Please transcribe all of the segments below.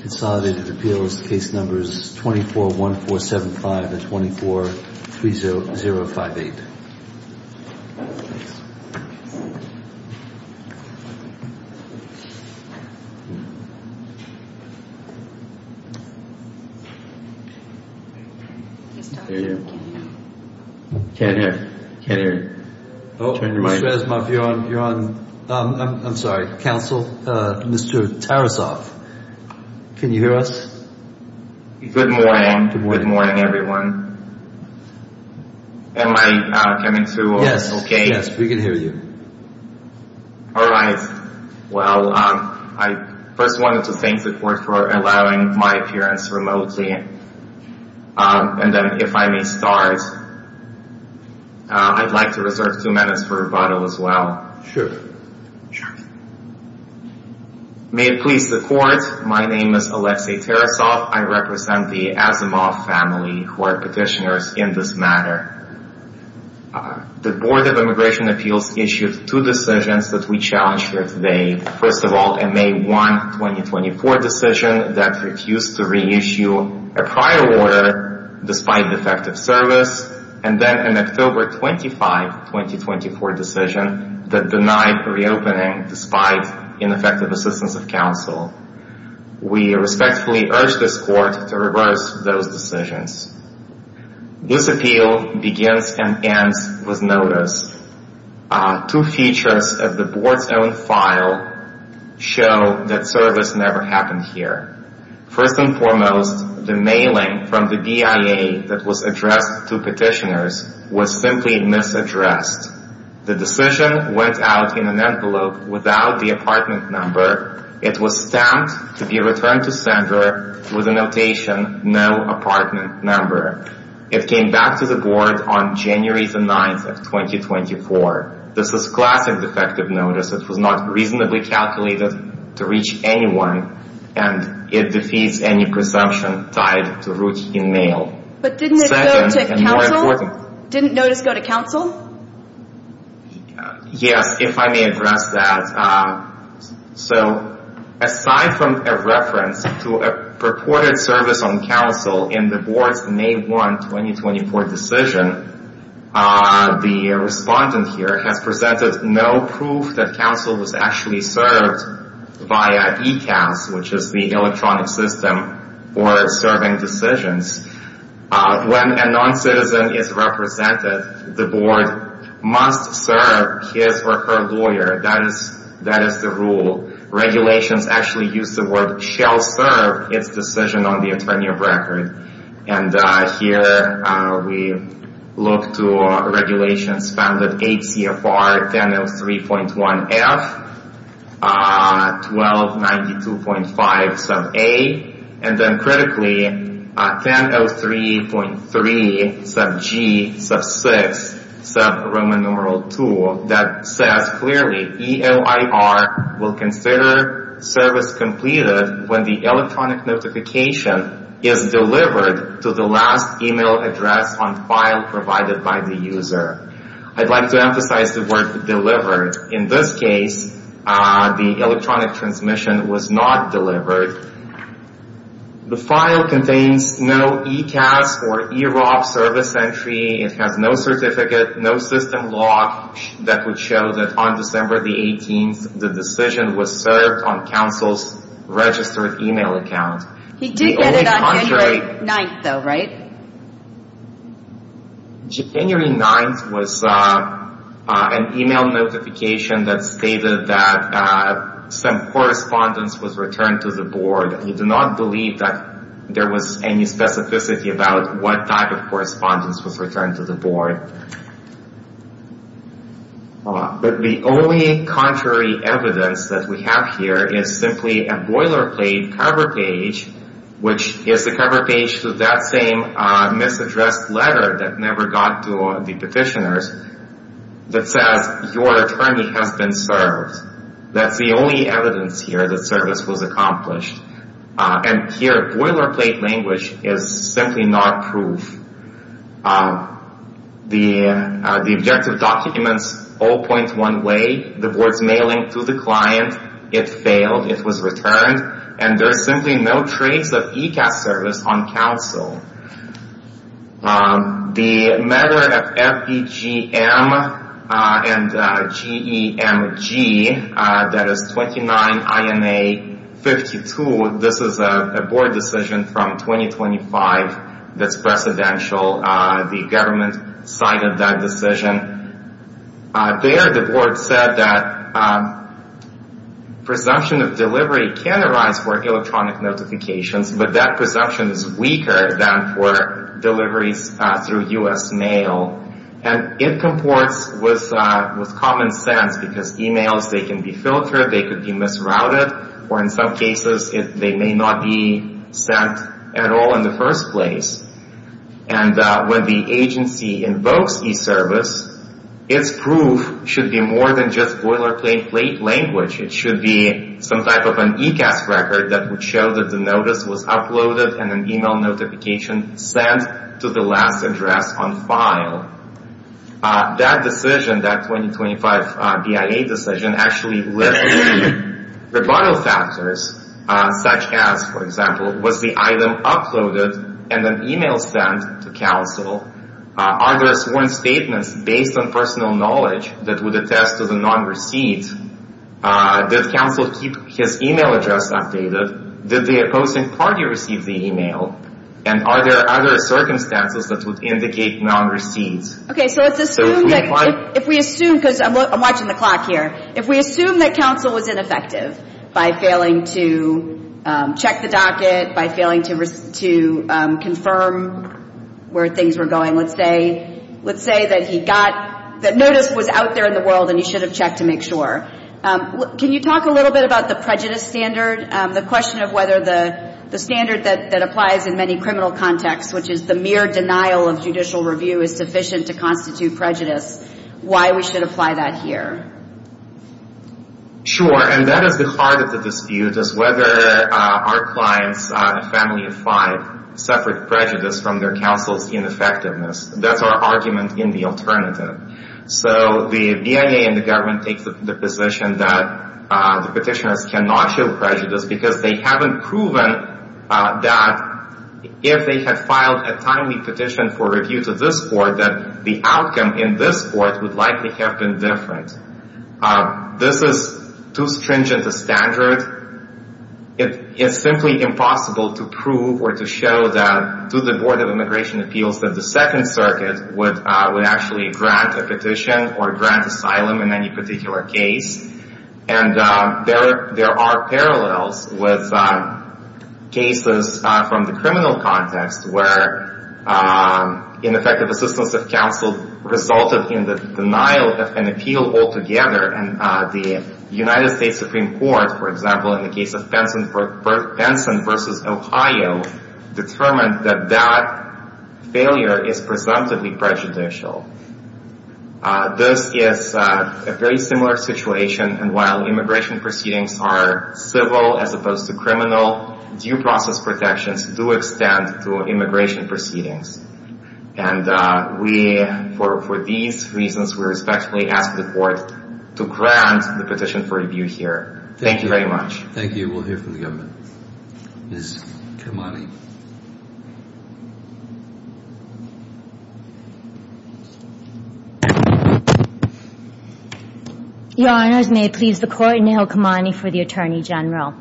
Consolidated Appeals, Case Numbers 241475 and 2430058. Mr. Tarasov, can you hear us? Good morning. Good morning, everyone. Am I coming through okay? Yes, we can hear you. All right. Well, I first wanted to thank the court for allowing my appearance remotely. And then if I may start, I'd like to reserve two minutes for rebuttal as well. Sure. May it please the court, my name is Alexei Tarasov. I represent the Asamov family who are petitioners in this matter. The Board of Immigration Appeals issued two decisions that we challenge here today. First of all, a May 1, 2024 decision that refused to reissue a prior order despite defective service. And then an October 25, 2024 decision that denied reopening despite ineffective assistance of counsel. We respectfully urge this court to reverse those decisions. This appeal begins and ends with notice. Two features of the board's own file show that service never happened here. First and foremost, the mailing from the BIA that was addressed to petitioners was simply misaddressed. The decision went out in an envelope without the apartment number. It was stamped to be returned to sender with a notation, no apartment number. It came back to the board on January 9, 2024. This is classic defective notice. It was not reasonably calculated to reach anyone. And it defeats any presumption tied to routine mail. But didn't it go to counsel? Didn't notice go to counsel? Yes, if I may address that. So aside from a reference to a purported service on counsel in the board's May 1, 2024 decision, the respondent here has presented no proof that counsel was actually served via ECAS, which is the electronic system for serving decisions. When a noncitizen is represented, the board must serve his or her lawyer. That is the rule. Regulations actually use the word shall serve its decision on the attorney of record. And here we look to regulations found in 8 CFR 1003.1F, 1292.5 sub A, and then critically 1003.3 sub G, sub 6, sub Roman numeral 2, that says clearly EOIR will consider service completed when the electronic notification is delivered to the last email address on file provided by the user. I'd like to emphasize the word delivered. In this case, the electronic transmission was not delivered. The file contains no ECAS or EROB service entry. It has no certificate, no system law that would show that on December the 18th, the decision was served on counsel's registered email account. He did get it on January 9th, though, right? January 9th was an email notification that stated that some correspondence was returned to the board. We do not believe that there was any specificity about what type of correspondence was returned to the board. But the only contrary evidence that we have here is simply a boilerplate cover page, which is the cover page to that same misaddressed letter that never got to the petitioners, that says your attorney has been served. That's the only evidence here that service was accomplished. And here, boilerplate language is simply not proof. The objective documents all point one way, the board's mailing to the client. It failed. It was returned. And there's simply no trace of ECAS service on counsel. The matter of FBGM and GEMG, that is 29 INA 52, this is a board decision from 2025 that's presidential. The government cited that decision. There, the board said that presumption of delivery can arise for electronic notifications, but that presumption is weaker than for deliveries through U.S. mail. And it comports with common sense because emails, they can be filtered, they could be misrouted, or in some cases, they may not be sent at all in the first place. And when the agency invokes e-service, its proof should be more than just boilerplate language. It should be some type of an ECAS record that would show that the notice was uploaded and an email notification sent to the last address on file. That decision, that 2025 BIA decision, actually listed rebuttal factors, such as, for example, was the item uploaded and an email sent to counsel? Are there sworn statements based on personal knowledge that would attest to the non-receipt? Did counsel keep his email address updated? Did the opposing party receive the email? And are there other circumstances that would indicate non-receipt? Okay, so if we assume, because I'm watching the clock here, if we assume that counsel was ineffective by failing to check the docket, by failing to confirm where things were going, let's say that he got the notice was out there in the world and he should have checked to make sure, can you talk a little bit about the prejudice standard, the question of whether the standard that applies in many criminal contexts, which is the mere denial of judicial review is sufficient to constitute prejudice, why we should apply that here? Sure, and that is the heart of the dispute, is whether our clients, a family of five, suffered prejudice from their counsel's ineffectiveness. That's our argument in the alternative. So the BIA and the government take the position that the petitioners cannot show prejudice because they haven't proven that if they had filed a timely petition for review to this court, that the outcome in this court would likely have been different. This is too stringent a standard. It is simply impossible to prove or to show to the Board of Immigration Appeals that the Second Circuit would actually grant a petition or grant asylum in any particular case. And there are parallels with cases from the criminal context where ineffective assistance of counsel resulted in the denial of an appeal altogether, and the United States Supreme Court, for example, in the case of Penson v. Ohio, determined that that failure is presumptively prejudicial. This is a very similar situation, and while immigration proceedings are civil as opposed to criminal, due process protections do extend to immigration proceedings. And for these reasons, we respectfully ask the court to grant the petition for review here. Thank you very much. Thank you. We'll hear from the government. Ms. Kamani. Your Honors, may it please the Court, Neha Kamani for the Attorney General.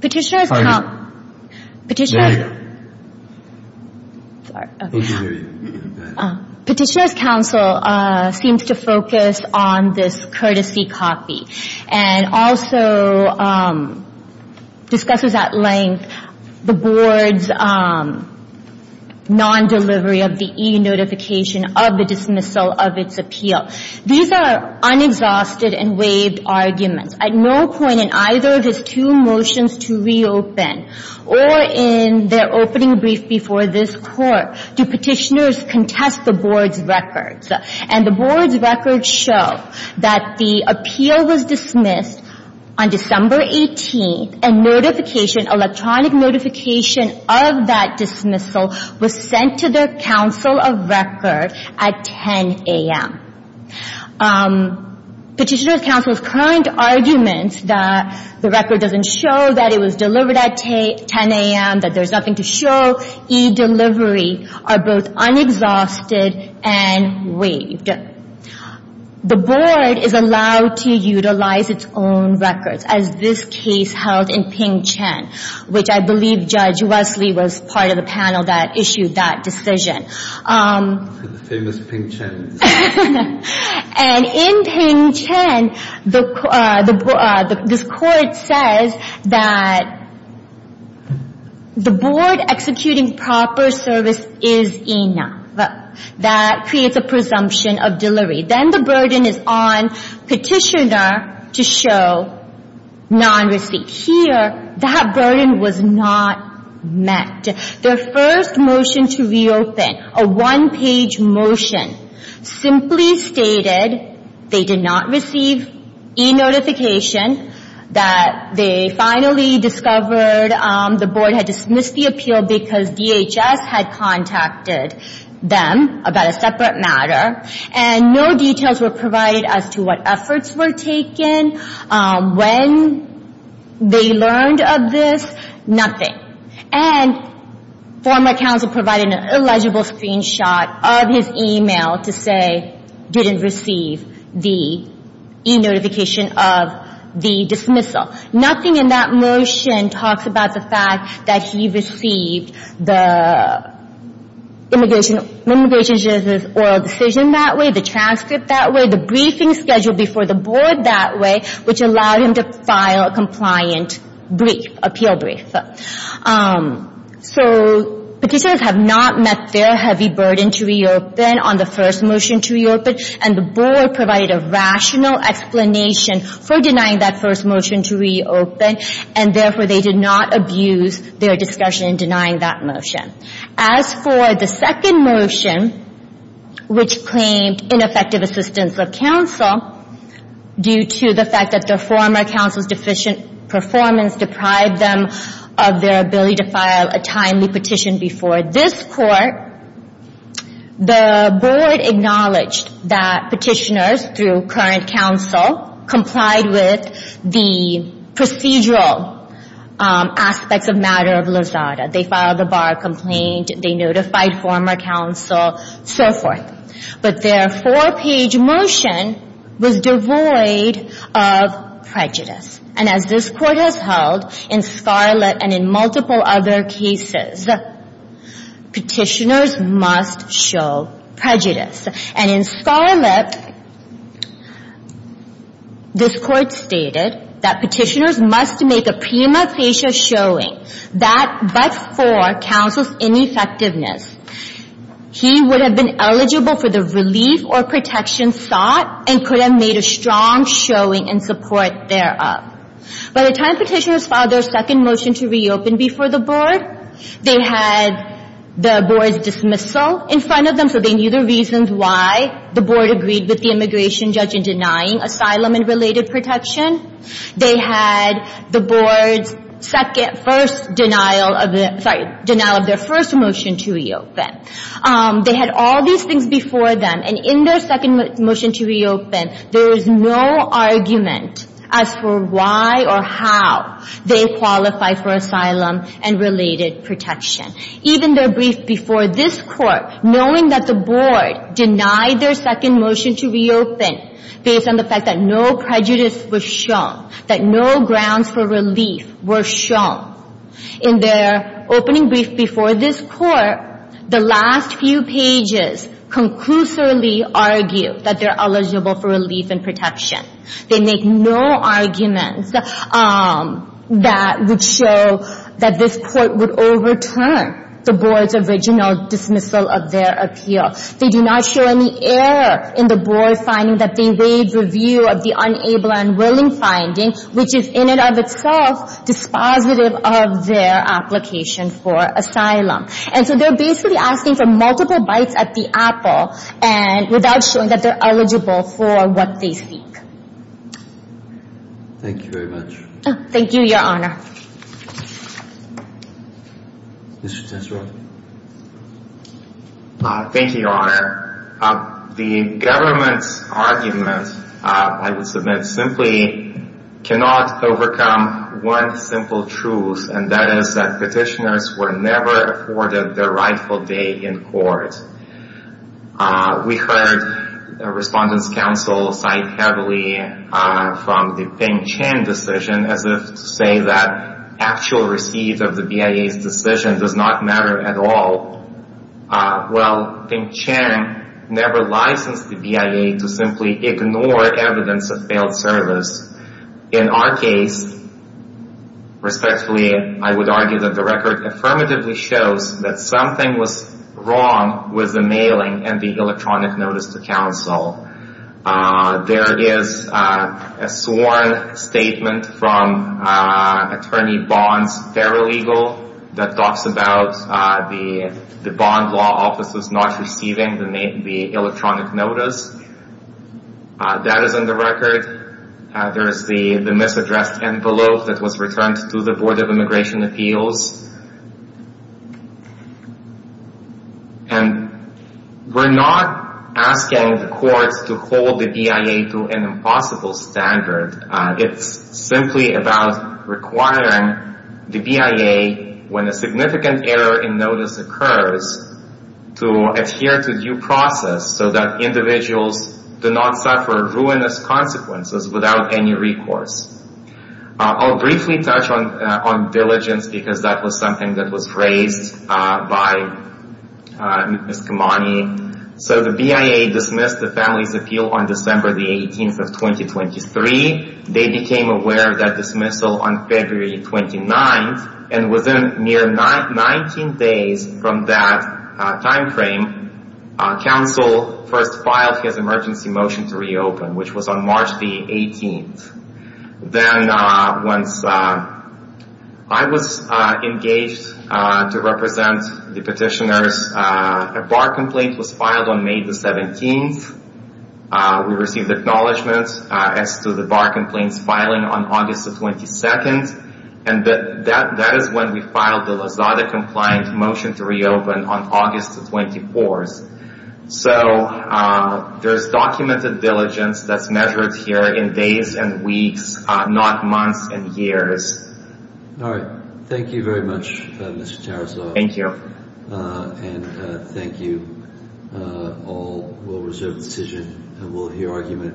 Petitioner's counsel seems to focus on this courtesy copy, and also discusses at length the importance of this copy the Board's non-delivery of the e-notification of the dismissal of its appeal. These are unexhausted and waived arguments. At no point in either of his two motions to reopen or in their opening brief before this Court do petitioners contest the Board's records. And the Board's records show that the appeal was dismissed on December 18th and electronic notification of that dismissal was sent to their counsel of record at 10 a.m. Petitioner's counsel's current arguments that the record doesn't show that it was delivered at 10 a.m., that there's nothing to show, e-delivery, are both unexhausted and waived. The Board is allowed to utilize its own records, as this case held in Ping Chen, which I believe Judge Wesley was part of the panel that issued that decision. The famous Ping Chen. And in Ping Chen, this Court says that the Board executing proper service is enough. That creates a presumption of delivery. Then the burden is on petitioner to show non-receipt. Here, that burden was not met. Their first motion to reopen, a one-page motion, simply stated they did not receive e-notification, that they finally discovered the Board had dismissed the appeal because DHS had contacted them about a separate matter, and no details were provided as to what efforts were taken, when they learned of this, nothing. And former counsel provided an illegible screenshot of his e-mail to say, didn't receive the e-notification of the dismissal. Nothing in that motion talks about the fact that he received the Immigration Justice Oral Decision that way, the transcript that way, the briefing scheduled before the Board that way, which allowed him to file a compliant brief, appeal brief. So petitioners have not met their heavy burden to reopen on the first motion to reopen, and the Board provided a rational explanation for denying that first motion to reopen, and therefore they did not abuse their discussion in denying that motion. As for the second motion, which claimed ineffective assistance of counsel due to the fact that their former counsel's deficient performance deprived them of their ability to file a timely petition before this Court, the Board acknowledged that petitioners, through current counsel, complied with the procedural aspects of matter of Lozada. They filed a bar complaint, they notified former counsel, so forth. But their four-page motion was devoid of prejudice. And as this Court has held in Scarlett and in multiple other cases, petitioners must show prejudice. And in Scarlett, this Court stated that petitioners must make a prima facie showing that but for counsel's ineffectiveness, he would have been eligible for the relief or protection sought and could have made a strong showing in support thereof. By the time petitioners filed their second motion to reopen before the Board, they had the Board's dismissal in front of them, so they knew the reasons why the Board agreed with the immigration judge in denying asylum and related protection. They had the Board's second – first denial of the – sorry, denial of their first motion to reopen. They had all these things before them, and in their second motion to reopen, there is no argument as for why or how they qualify for asylum and related protection. Even their brief before this Court, knowing that the Board denied their second motion to reopen, based on the fact that no prejudice was shown, that no grounds for relief were shown, in their opening brief before this Court, the last few pages conclusively argue that they're eligible for relief and protection. They make no arguments that would show that this Court would overturn the Board's original dismissal of their appeal. They do not show any error in the Board's finding that they waived review of the unable and unwilling finding, which is in and of itself dispositive of their application for asylum. And so they're basically asking for multiple bites at the apple without showing that they're eligible for what they speak. Thank you very much. Thank you, Your Honor. Mr. Tesserot. Thank you, Your Honor. The government's argument, I would submit, simply cannot overcome one simple truth, and that is that petitioners were never afforded their rightful day in court. We heard Respondents' Counsel cite heavily from the Ping Chen decision as if to say that actual receipt of the BIA's decision does not matter at all. While Ping Chen never licensed the BIA to simply ignore evidence of failed service, in our case, respectfully, I would argue that the record affirmatively shows that something was wrong with the mailing and the electronic notice to counsel. There is a sworn statement from Attorney Bond's paralegal that talks about the Bond Law Office's not receiving the electronic notice. That is in the record. There is the misaddressed envelope that was returned to the Board of Immigration Appeals. And we're not asking the courts to hold the BIA to an impossible standard. It's simply about requiring the BIA, when a significant error in notice occurs, to adhere to due process so that individuals do not suffer ruinous consequences without any recourse. I'll briefly touch on diligence because that was something that was raised by Ms. Kamani. So the BIA dismissed the family's appeal on December 18, 2023. They became aware of that dismissal on February 29. And within 19 days from that time frame, counsel first filed his emergency motion to reopen, which was on March 18. Then once I was engaged to represent the petitioners, a bar complaint was filed on May 17. We received acknowledgment as to the bar complaint's filing on August 22. And that is when we filed the Lozada-compliant motion to reopen on August 24. So there's documented diligence that's measured here in days and weeks, not months and years. All right. Thank you very much, Mr. Tarasov. Thank you. And thank you all. We'll reserve the decision and we'll hear argument.